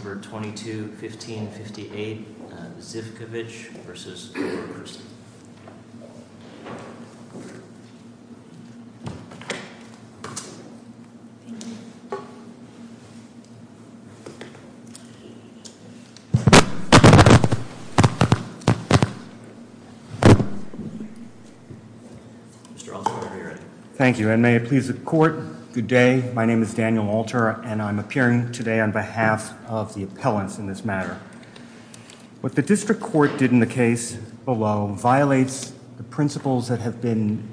22-15-58 Zivkovic v. Laura Christy Thank you and may it please the court good day my name is Daniel Walter and I'm appearing today on behalf of the appellants in this matter. What the district court did in the case below violates the principles that have been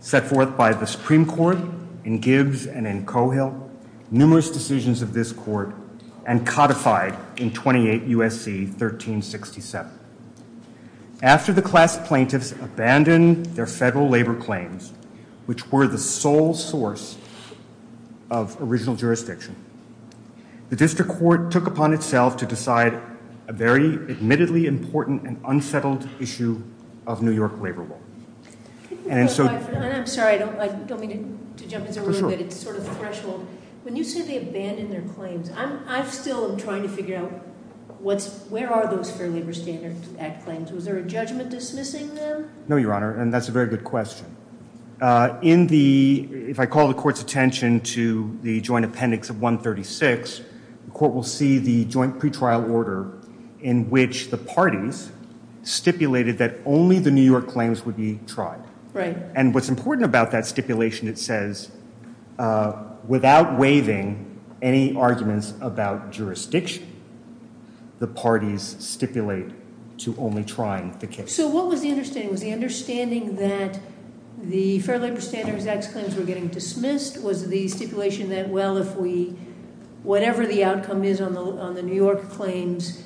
set forth by the Supreme Court in Gibbs and in Cohill numerous decisions of this court and codified in 28 USC 1367. After the class plaintiffs abandoned their federal labor claims which were the sole source of original jurisdiction the district court took upon itself to decide a very admittedly important and unsettled issue of New York labor law and so I'm sorry I don't like don't mean to jump into a room but it's sort of the threshold when you say they abandoned their claims I'm I still am trying to figure out what's where are those fair labor standards act claims was there a judgment dismissing them no your honor and that's a very good question uh in the if I call the court's to the joint appendix of 136 the court will see the joint pre-trial order in which the parties stipulated that only the New York claims would be tried right and what's important about that stipulation it says uh without waiving any arguments about jurisdiction the parties stipulate to only trying the case so what was the understanding was the understanding that the fair labor standards x claims were getting dismissed was the stipulation that well if we whatever the outcome is on the on the New York claims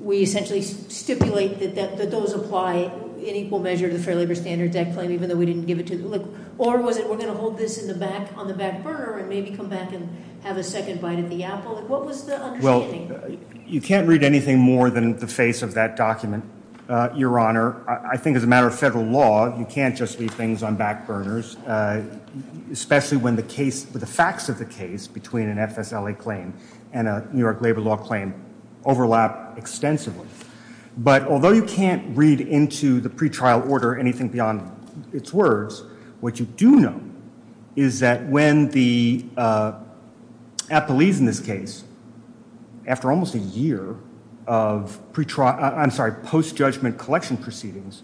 we essentially stipulate that that those apply in equal measure to the fair labor standards that claim even though we didn't give it to them or was it we're going to hold this in the back on the back burner and maybe come back and have a second bite at the apple what was the well you can't read anything more than the face of that document uh your honor I think as a matter of federal law you can't just leave things on back burners especially when the case with the facts of the case between an FSLA claim and a New York labor law claim overlap extensively but although you can't read into the pre-trial order anything beyond its words what you do know is that when the uh at the leaves in this case after almost a year of pre-trial I'm sorry post-judgment collection proceedings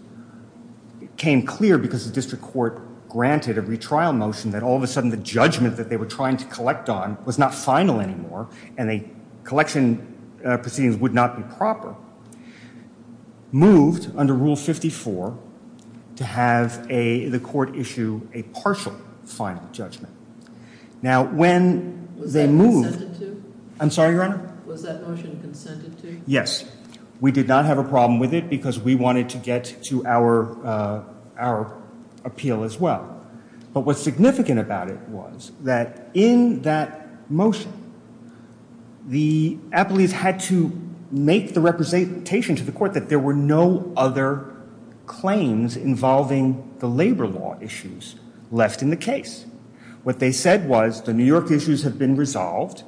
it came clear because the district court granted a retrial motion that all of a sudden the judgment that they were trying to collect on was not final anymore and the collection proceedings would not be proper moved under rule 54 to have a the court issue a partial final judgment now when they moved I'm sorry your honor was that motion consented to yes we did not have a problem with it because we wanted to get to our uh our appeal as well but what's significant about it was that in that motion the appellees had to make the representation to the court that there were no other claims involving the labor law issues left in the case what they said was the New York issues have been resolved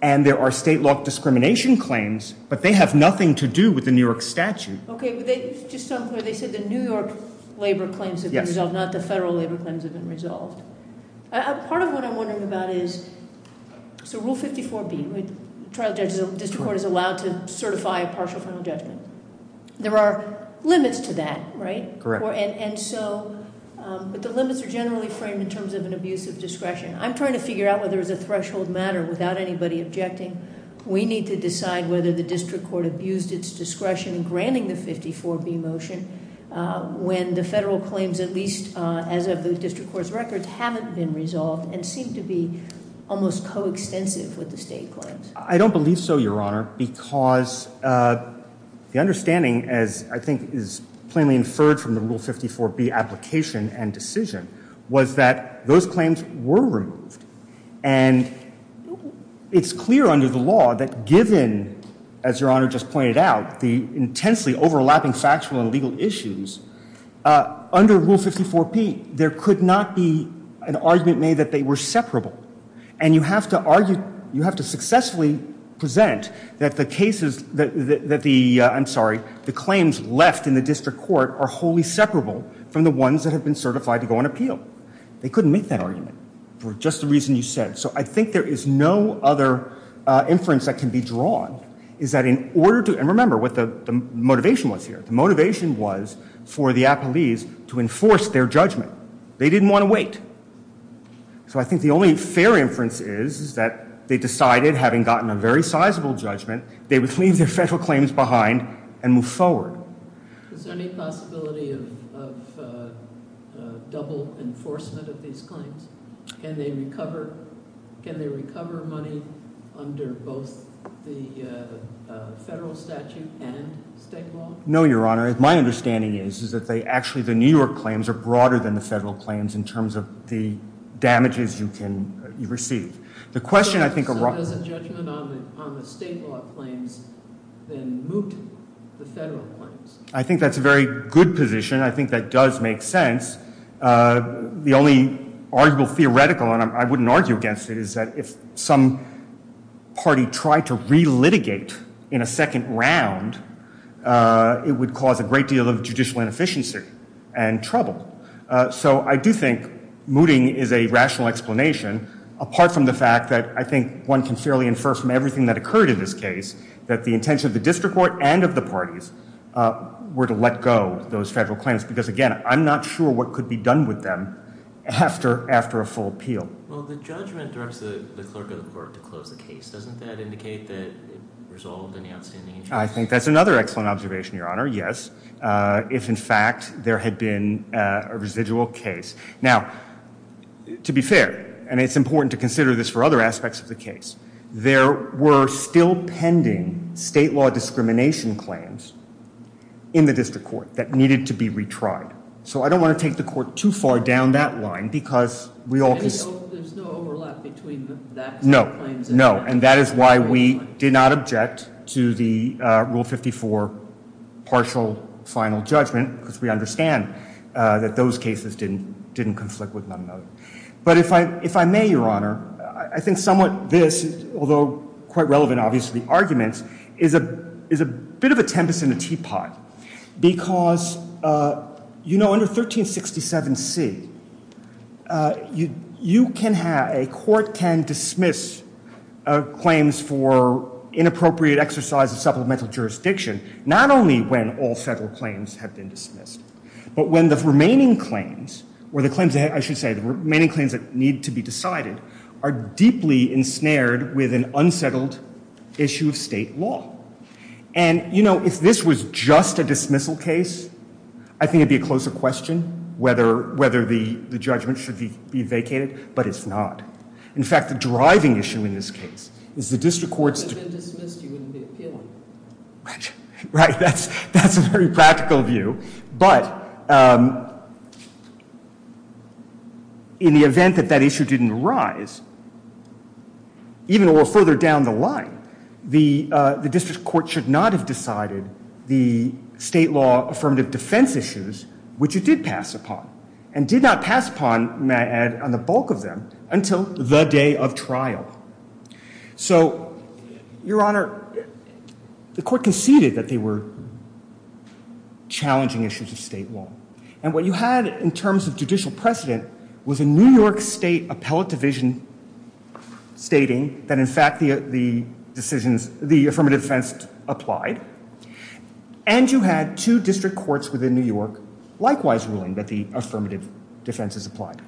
and there are state law discrimination claims but they have nothing to do with New York statute okay they just sound clear they said the New York labor claims have been resolved not the federal labor claims have been resolved part of what I'm wondering about is so rule 54b trial judges district court is allowed to certify a partial final judgment there are limits to that right correct and and so but the limits are generally framed in terms of an abuse of discretion I'm trying to figure out whether it's a threshold matter without anybody objecting we need to decide whether the district court abused its discretion in granting the 54b motion when the federal claims at least as of the district court's records haven't been resolved and seem to be almost co-extensive with the state claims I don't believe so your honor because the understanding as I think is plainly inferred from the rule 54b application and decision was that those given as your honor just pointed out the intensely overlapping factual and legal issues uh under rule 54p there could not be an argument made that they were separable and you have to argue you have to successfully present that the cases that the I'm sorry the claims left in the district court are wholly separable from the ones that have been certified to go on appeal they couldn't make that argument for just the reason you said so I think there is no other inference that can be drawn is that in order to and remember what the motivation was here the motivation was for the appellees to enforce their judgment they didn't want to wait so I think the only fair inference is that they decided having gotten a very sizable judgment they would leave their federal claims behind and move forward is there any possibility of uh double enforcement of these claims can they recover can they recover money under both the uh federal statute and state law no your honor my understanding is is that they actually the new york claims are broader than the federal claims in terms of the damages you can you receive the question I think does a judgment on the on the state law claims then moot the federal claims I think that's a very good position I think that does make sense the only arguable theoretical and I wouldn't argue against it is that if some party tried to re-litigate in a second round uh it would cause a great deal of judicial inefficiency and trouble so I do think mooting is a rational explanation apart from the fact that I think one can fairly infer from everything that occurred in this case that the intention of the district court and of the parties uh were to let go those federal claims because again I'm not sure what could be done with them after after a full appeal well the judgment directs the clerk of the court to close the case doesn't that indicate that it resolved any outstanding issues I think that's another excellent observation your honor yes uh if in fact there had been a residual case now to be fair and it's important to consider this for other aspects of the case there were still pending state law discrimination claims in the district court that needed to be retried so I don't want to take the court too far down that line because we all know there's no overlap between that no no and that is why we did not object to the uh rule 54 partial final judgment because we understand uh that those cases didn't didn't conflict with one another but if I if I may your honor I think somewhat this although quite relevant obviously arguments is a is a bit of a tempest in a teapot because uh you know under 1367 c uh you you can have a court can dismiss uh claims for inappropriate exercise of supplemental jurisdiction not only when all federal claims have been dismissed but when the remaining claims or the claims I should say the remaining claims that need to be decided are deeply ensnared with an unsettled issue of state law and you know if this was just a dismissal case I think it'd be a closer question whether whether the the judgment should be be vacated but it's not in fact the driving issue in this case is the district courts dismissed you wouldn't be appealing right that's that's a very practical view but um in the event that that issue didn't arise even a little further down the line the uh the district court should not have decided the state law affirmative defense issues which it did pass upon and did not pass upon may I add on the bulk of them until the day of trial so your honor the court conceded that they were challenging issues of state law and what you had in terms of judicial precedent was a new york state appellate division stating that in fact the the decisions the affirmative defense applied and you had two district courts within new york likewise ruling that the affirmative defense is applied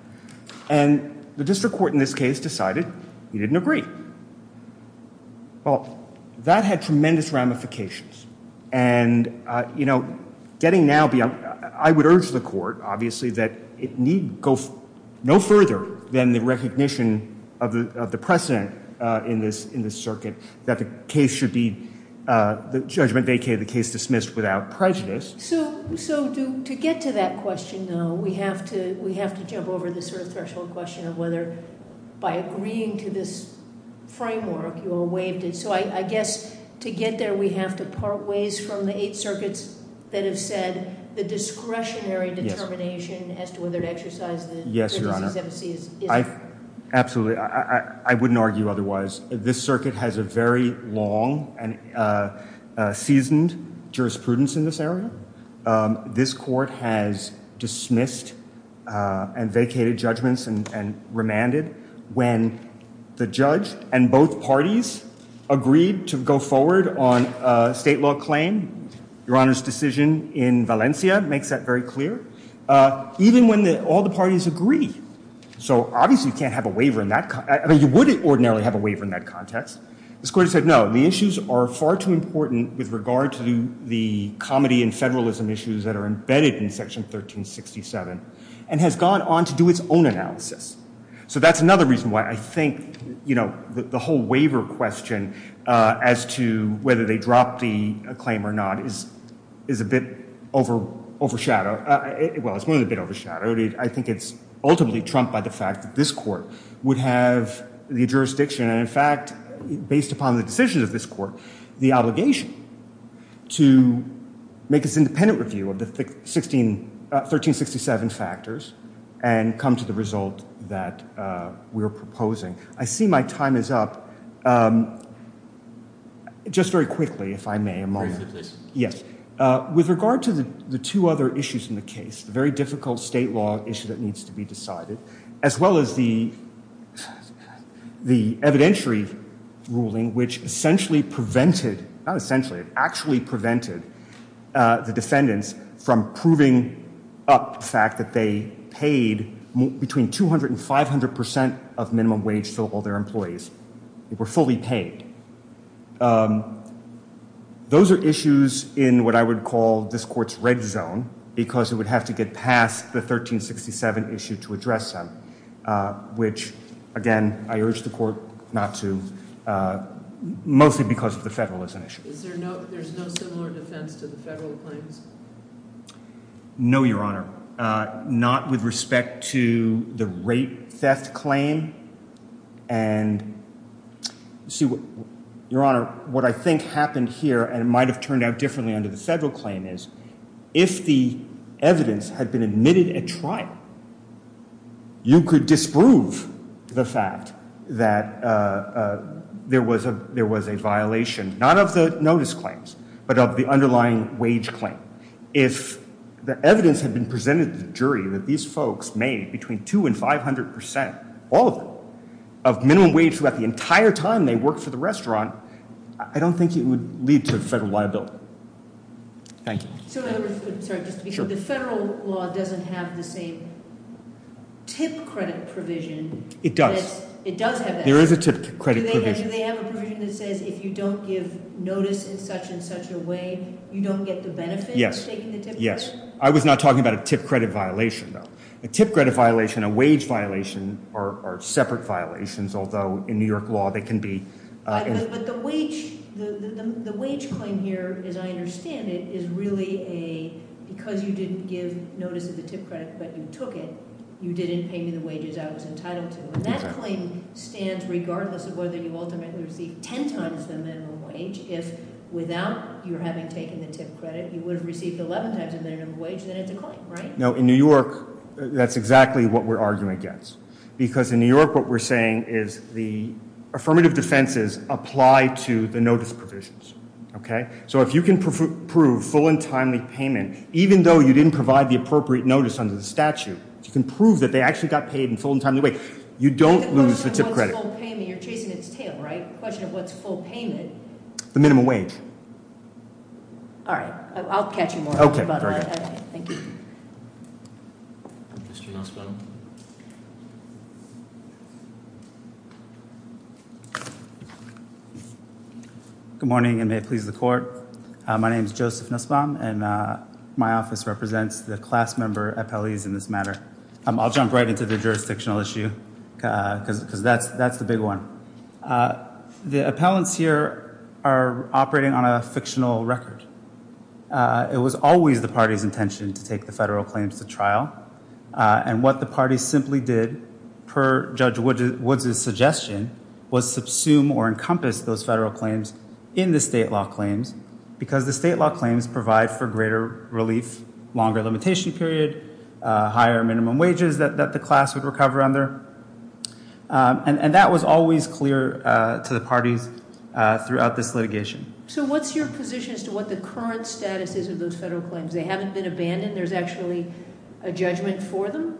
and the district court in this case decided he didn't agree well that had tremendous ramifications and uh you know getting now beyond i would urge the court obviously that it need go no further than the recognition of the of the precedent uh in this in this circuit that the case should be uh the judgment vacated the case dismissed without prejudice so so do to get to that question though we have to we have to jump over this sort of threshold question of whether by agreeing to this framework you all waived it so i i guess to get there we have to part ways from the eight circuits that have said the discretionary determination as to whether to exercise the yes your honor absolutely i i wouldn't argue otherwise this circuit has a very long and uh uh seasoned jurisprudence in this area um this court has dismissed uh and vacated judgments and and remanded when the judge and both parties agreed to go forward on a state law claim your honor's decision in valencia makes that very clear uh even when the all the parties agree so obviously you can't have a waiver in that i mean you wouldn't ordinarily have a waiver in that context the court said no the issues are far too important with regard to the comedy and federalism issues that are embedded in section 1367 and has gone on to do its own analysis so that's another reason why i think you know the whole waiver question uh as to whether they drop the claim or not is is a bit over overshadowed well it's only a bit overshadowed i think it's ultimately trumped by the fact that this court would have the jurisdiction and in fact based upon the decisions of this court the obligation to make its independent review of the 16 1367 factors and come to the result that uh we're proposing i see my time is up um just very quickly if i may yes with regard to the the two other issues in the case the very difficult state law issue that needs to be decided as well as the the evidentiary ruling which essentially prevented not essentially it actually prevented uh the defendants from proving up the fact that they paid between 200 and 500 percent of they were fully paid those are issues in what i would call this court's red zone because it would have to get past the 1367 issue to address them uh which again i urge the court not to uh mostly because of the federalism issue is there no there's no similar defense to the federal claims no your honor uh not with respect to the rape theft claim and see what your honor what i think happened here and it might have turned out differently under the federal claim is if the evidence had been admitted at trial you could disprove the fact that uh there was a there was a violation not of the notice claims but of the underlying wage claim if the evidence had been presented to the jury that these folks made between two and five hundred percent all of them of minimum wage throughout the entire time they worked for the restaurant i don't think it would lead to federal liability thank you so sorry just because the federal law doesn't have the same tip credit provision it does it does have that there is a tip credit do they have a provision that says if you don't give notice in such and such a way you don't get the benefit yes yes i was not talking about a tip credit violation though a tip credit violation a wage violation are separate violations although in new york law they can be but the wage the the wage claim here as i understand it is really a because you didn't give notice of the tip credit but you took it you didn't pay me the wages i was entitled to and that claim stands regardless of whether you ultimately receive 10 times the minimum wage if without you're having taken the tip credit you would have received 11 times the minimum wage then it's a claim right no in new york that's exactly what we're arguing against because in new york what we're saying is the affirmative defenses apply to the notice provisions okay so if you can prove full and timely payment even though you didn't provide the appropriate notice under the statute you can prove that they actually got paid in full and timely way you don't lose the tip credit you're chasing its tail right question of what's full payment the minimum wage all right i'll catch you more okay thank you good morning and may it please the court my name is joseph nusbaum and uh my office represents the class member appellees in this matter um i'll jump right into the jurisdictional issue uh because because that's that's the big one uh the appellants here are operating on a fictional record uh it was always the party's intention to take the federal claims to trial uh and what the party simply did per judge wood woods's suggestion was subsume or encompass those federal claims in the state law claims because the state law claims provide for greater relief longer limitation period uh higher minimum wages that the class would recover under and that was always clear uh to the parties uh throughout this litigation so what's your position as to what the current status is of those federal claims they haven't been abandoned there's actually a judgment for them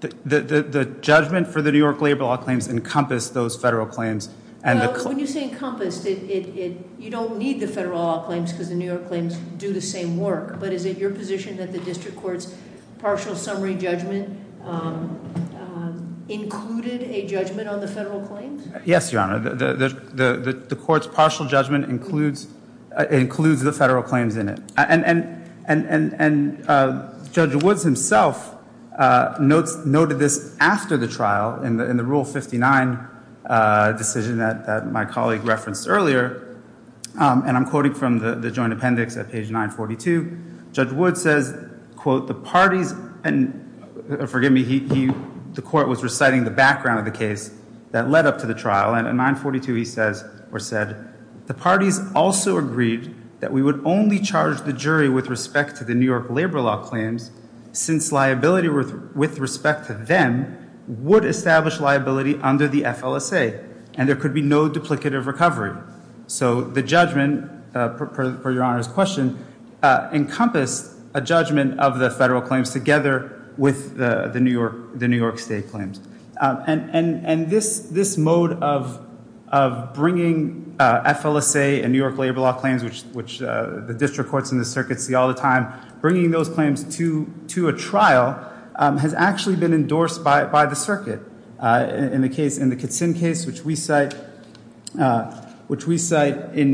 the the the judgment for the new york labor law claims encompass those federal claims and when you say encompassed it it you don't need the federal law claims because the new york claims do the same work but is it your position that the district court's partial summary judgment um included a judgment on the federal claims yes your honor the the the court's partial judgment includes includes the federal claims in it and and and and uh judge woods himself uh notes noted this after the trial in the in the rule 59 uh decision that that my colleague referenced earlier and i'm quoting from the the joint appendix at page 942 judge wood says quote the parties and forgive me he the court was reciting the background of the case that led up to the trial and at 942 he says or said the parties also agreed that we would only charge the jury with respect to the new york labor law claims since liability with respect to them would establish liability under the FLSA and there could be no duplicative recovery so the judgment for your honor's question encompassed a judgment of the federal claims together with the the new york the new york state claims and and and this this mode of of bringing FLSA and new york labor law claims which which the district courts in the circuit see all the time bringing those claims to to a trial has actually been endorsed by by the circuit in the case in the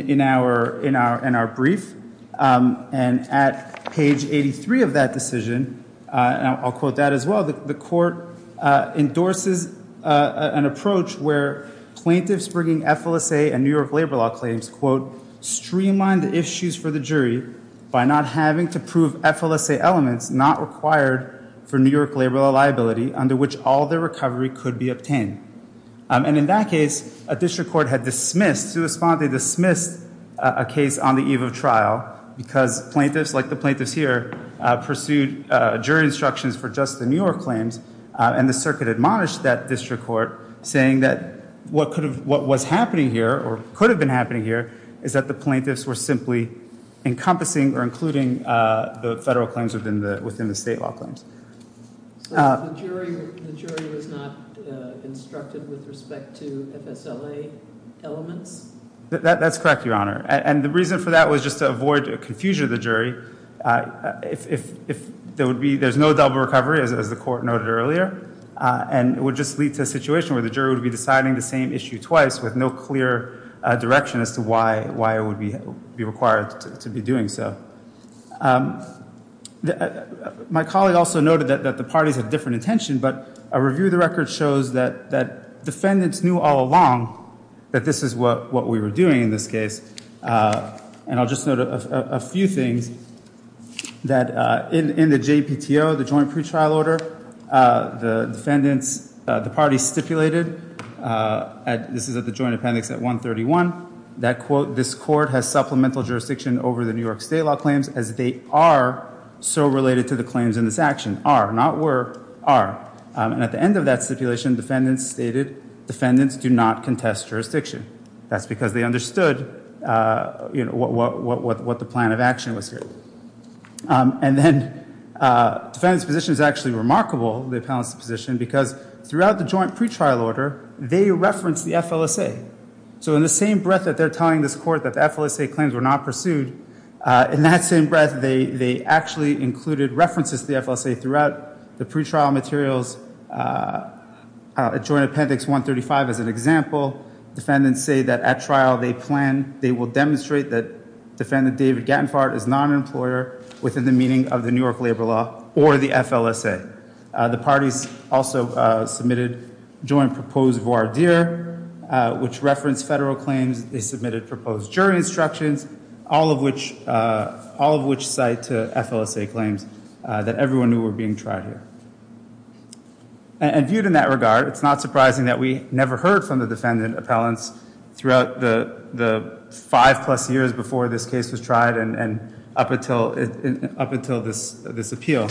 in our in our brief and at page 83 of that decision uh and i'll quote that as well the court uh endorses uh an approach where plaintiffs bringing FLSA and new york labor law claims quote streamline the issues for the jury by not having to prove FLSA elements not required for new york labor liability under which all their recovery could be obtained and in that case a district court had dismissed to respond they dismissed a case on the eve of trial because plaintiffs like the plaintiffs here pursued jury instructions for just the new york claims and the circuit admonished that district court saying that what could have what was happening here or could have been happening here is that the plaintiffs were simply encompassing or including uh the federal claims within the within the state law claims so the jury the jury was not instructed with respect to FSLA elements that that's correct your honor and the reason for that was just to avoid confusion of the jury uh if if if there would be there's no double recovery as the court noted earlier uh and it would just lead to a situation where the jury would be deciding the same issue twice with no clear uh direction as to why why it would be be required to be doing so um my colleague also noted that that the record shows that that defendants knew all along that this is what what we were doing in this case uh and i'll just note a few things that uh in in the jpto the joint pre-trial order uh the defendants uh the party stipulated uh at this is at the joint appendix at 131 that quote this court has supplemental jurisdiction over the new york state law claims as they are so related to the claims in this action are not were are and at the end of that stipulation defendants stated defendants do not contest jurisdiction that's because they understood uh you know what what what what the plan of action was here um and then uh defendant's position is actually remarkable the appellant's position because throughout the joint pre-trial order they reference the FLSA so in the same breath that they're telling this court that the FLSA claims were not pursued uh in that same breath they they actually included references to the FLSA throughout the pre-trial materials uh joint appendix 135 as an example defendants say that at trial they plan they will demonstrate that defendant david gattenfart is not an employer within the meaning of the new york labor law or the FLSA the parties also uh submitted joint proposed voir dire uh which referenced federal claims they submitted proposed jury instructions all of which uh all of which cite to FLSA claims uh that everyone knew were being tried here and viewed in that regard it's not surprising that we never heard from the defendant appellants throughout the the five plus years before this case was tried and and up until up until this this appeal um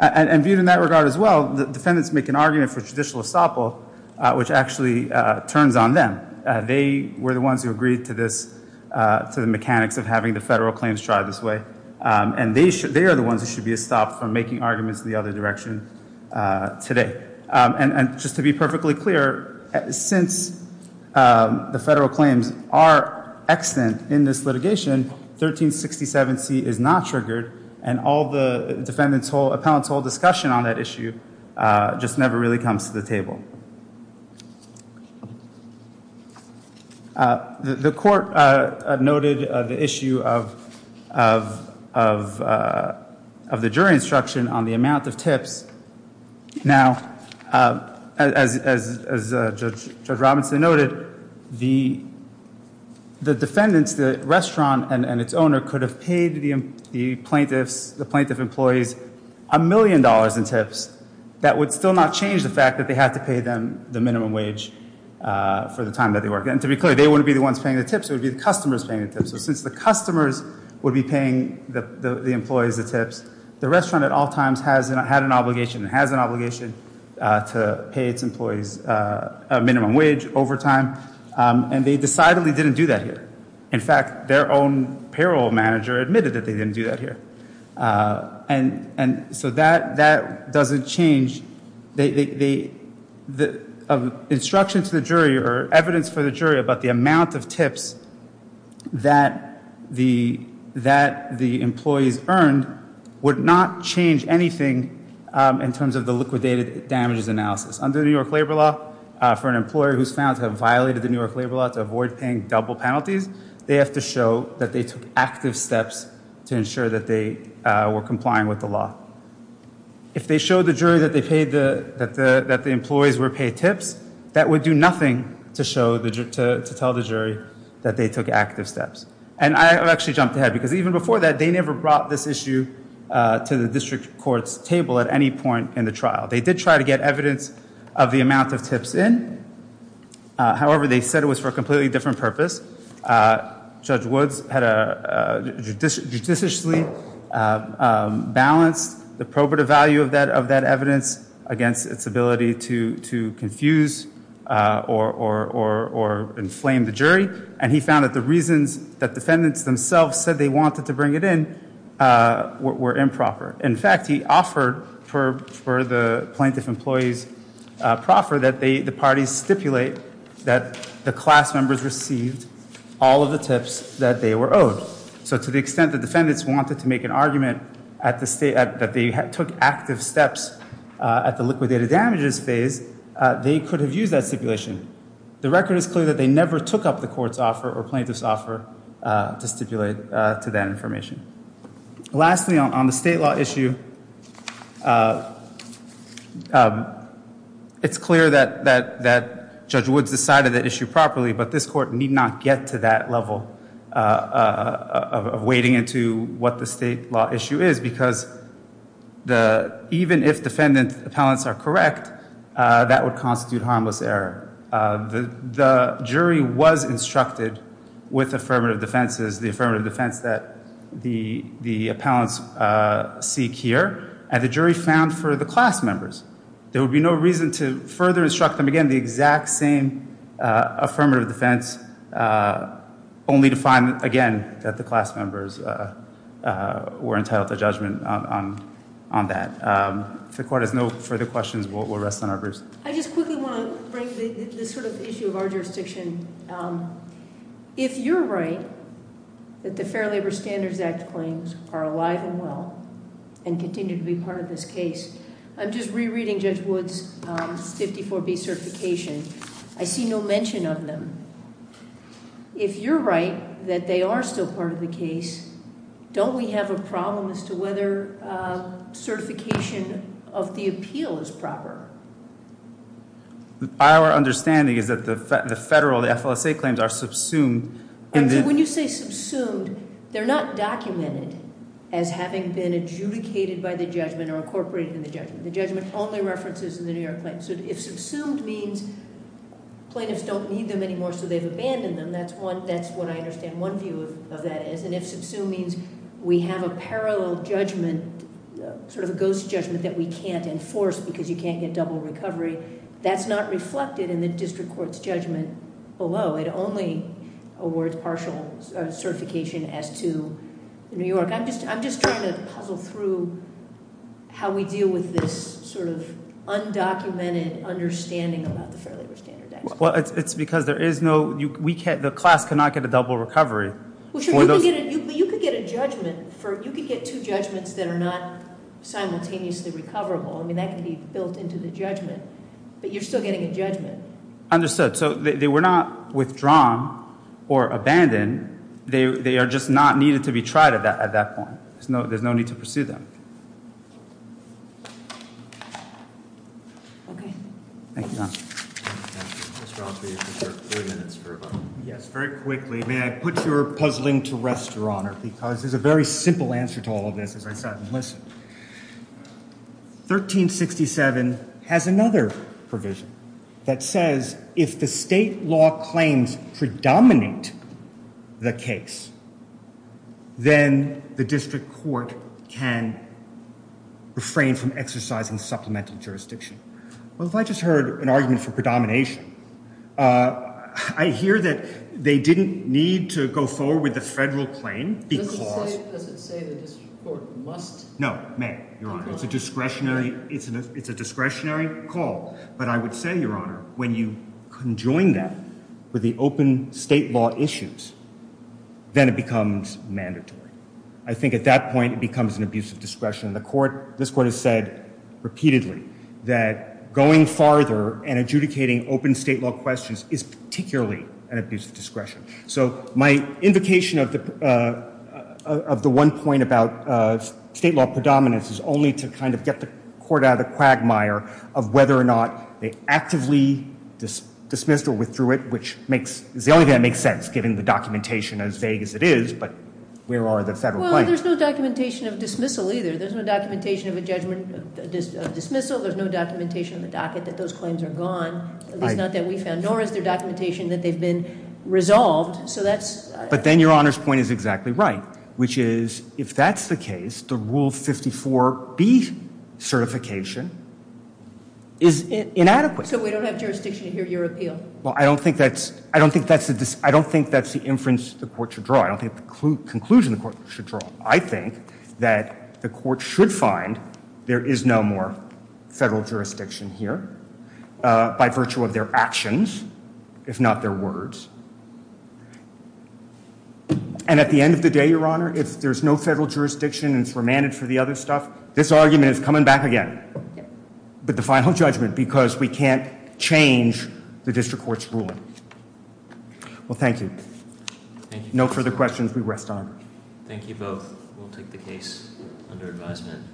and viewed in that regard as well the defendants make an argument for judicial estoppel uh which actually uh turns on them uh they were the ones who agreed to this uh to the mechanics of having the federal claims tried this way um and they should they are the ones who should be stopped from making arguments in the other direction uh today um and and just to be perfectly clear since um the federal claims are extant in this litigation 1367 c is not triggered and all the defendants whole appellants whole discussion on that issue uh just never really comes to the table uh the court uh noted the issue of of of uh of the jury instruction on the judge robinson noted the the defendants the restaurant and and its owner could have paid the the plaintiffs the plaintiff employees a million dollars in tips that would still not change the fact that they had to pay them the minimum wage uh for the time that they work and to be clear they wouldn't be the ones paying the tips it would be the customers paying the tips so since the customers would be paying the the employees the tips the restaurant at all times has had an obligation it has an obligation uh to pay its employees uh a minimum wage overtime um and they decidedly didn't do that here in fact their own payroll manager admitted that they didn't do that here uh and and so that that doesn't change they they the of instruction to the jury or evidence for the jury about the amount of tips that the that the employees earned would not change anything in terms of the liquidated damages analysis under the new york labor law uh for an employer who's found to have violated the new york labor law to avoid paying double penalties they have to show that they took active steps to ensure that they were complying with the law if they show the jury that they paid the that the that the employees were paid tips that would do nothing to show the to tell the jury that they took active steps and i have actually jumped ahead because even before that they never brought this issue uh to the district court's table at any point in the trial they did try to get evidence of the amount of tips in however they said it was for a completely different purpose uh judge woods had a uh judiciously um balanced the probative value of that of that evidence against its ability to to confuse uh or or or or inflame the jury and he found that the reasons that defendants themselves said they wanted to bring it in uh were improper in fact he offered for for the plaintiff employees uh proffer that they the parties stipulate that the class members received all of the tips that they were owed so to the extent the defendants wanted to make an argument at the state that they took active steps at the liquidated damages phase they could have used that stipulation the record is clear that they never took up the court's offer or plaintiff's offer uh to stipulate uh to that information lastly on the state law issue it's clear that that that judge woods decided that issue properly but this court need not get to that level uh of wading into what the state law issue is because the even if defendant appellants are correct uh that would constitute harmless error uh the the jury was instructed with affirmative defenses the affirmative defense that the the appellants uh seek here and the jury found for the class members there would be no reason to further instruct them again the exact same uh affirmative defense uh only to find again that the class members uh uh were entitled to judgment on on that um if the court has no further questions we'll rest on our boots i just quickly want to bring this sort of issue of our jurisdiction um if you're right that the fair labor standards act claims are alive and well and continue to be part of this case i'm just rereading judge woods 54b certification i see no mention of them if you're right that they are still part of the case don't we have a problem as to whether uh certification of the appeal is proper our understanding is that the federal the flsa claims are subsumed and when you say subsumed they're not documented as having been adjudicated by the judgment or incorporated in the judgment the judgment only references in the new york claims so if subsumed means plaintiffs don't need them anymore so they've abandoned them that's one that's what i understand one view of that is and if subsumed means we have a parallel judgment sort of a ghost judgment that we can't enforce because you can't get double recovery that's not reflected in the district court's judgment below it only awards partial certification as to new york i'm just i'm just trying to puzzle through how we deal with this sort of undocumented understanding about the fair labor standard well it's because there is no we can't the class cannot get a double recovery you could get a judgment for you could get two judgments that are not simultaneously recoverable i mean that can be built into the judgment but you're still getting a judgment understood so they were not withdrawn or abandoned they they are just not needed to be tried at that at that point there's no there's no need to pursue them okay thank you yes very quickly may i put your puzzling to rest your honor because there's a very simple answer to all of this as i said and listen 1367 has another provision that says if the state law claims predominate the case then the district court can refrain from exercising supplemental jurisdiction well if i just heard an argument for predomination uh i hear that they didn't need to go forward with the federal claim because does it say the district court must no may your honor it's a discretionary it's an it's a discretionary call but i would say your honor when you conjoin that with the open state law issues then it becomes mandatory i think at that point it becomes an abuse of discretion in the court this court has said repeatedly that going farther and adjudicating open state law questions is particularly an abuse of discretion so my invocation of the uh of the one point about uh state law predominance is only to kind of get the court out of the quagmire of whether or not they actively this dismissed or withdrew it which makes is the only thing that makes sense given the documentation as vague as it is but where are the federal well there's no documentation of dismissal either there's no documentation of a judgment of dismissal there's no documentation in the docket that those claims are gone at least not that we found nor is their documentation that they've been resolved so that's but then your honor's point is exactly right which is if that's the case the rule 54 b certification is inadequate so we don't have jurisdiction here your appeal well i don't think that's i don't think that's the i don't think that's the inference the court should draw i don't think the conclusion the court should draw i think that the court should find there is no more federal jurisdiction here uh by virtue of their actions if not their words and at the end of the day your honor if there's no federal jurisdiction and we're managed for the other stuff this argument is coming back again but the final judgment because we can't change the district court's ruling well thank you thank you no further questions we rest on thank you both we'll take the case under advisement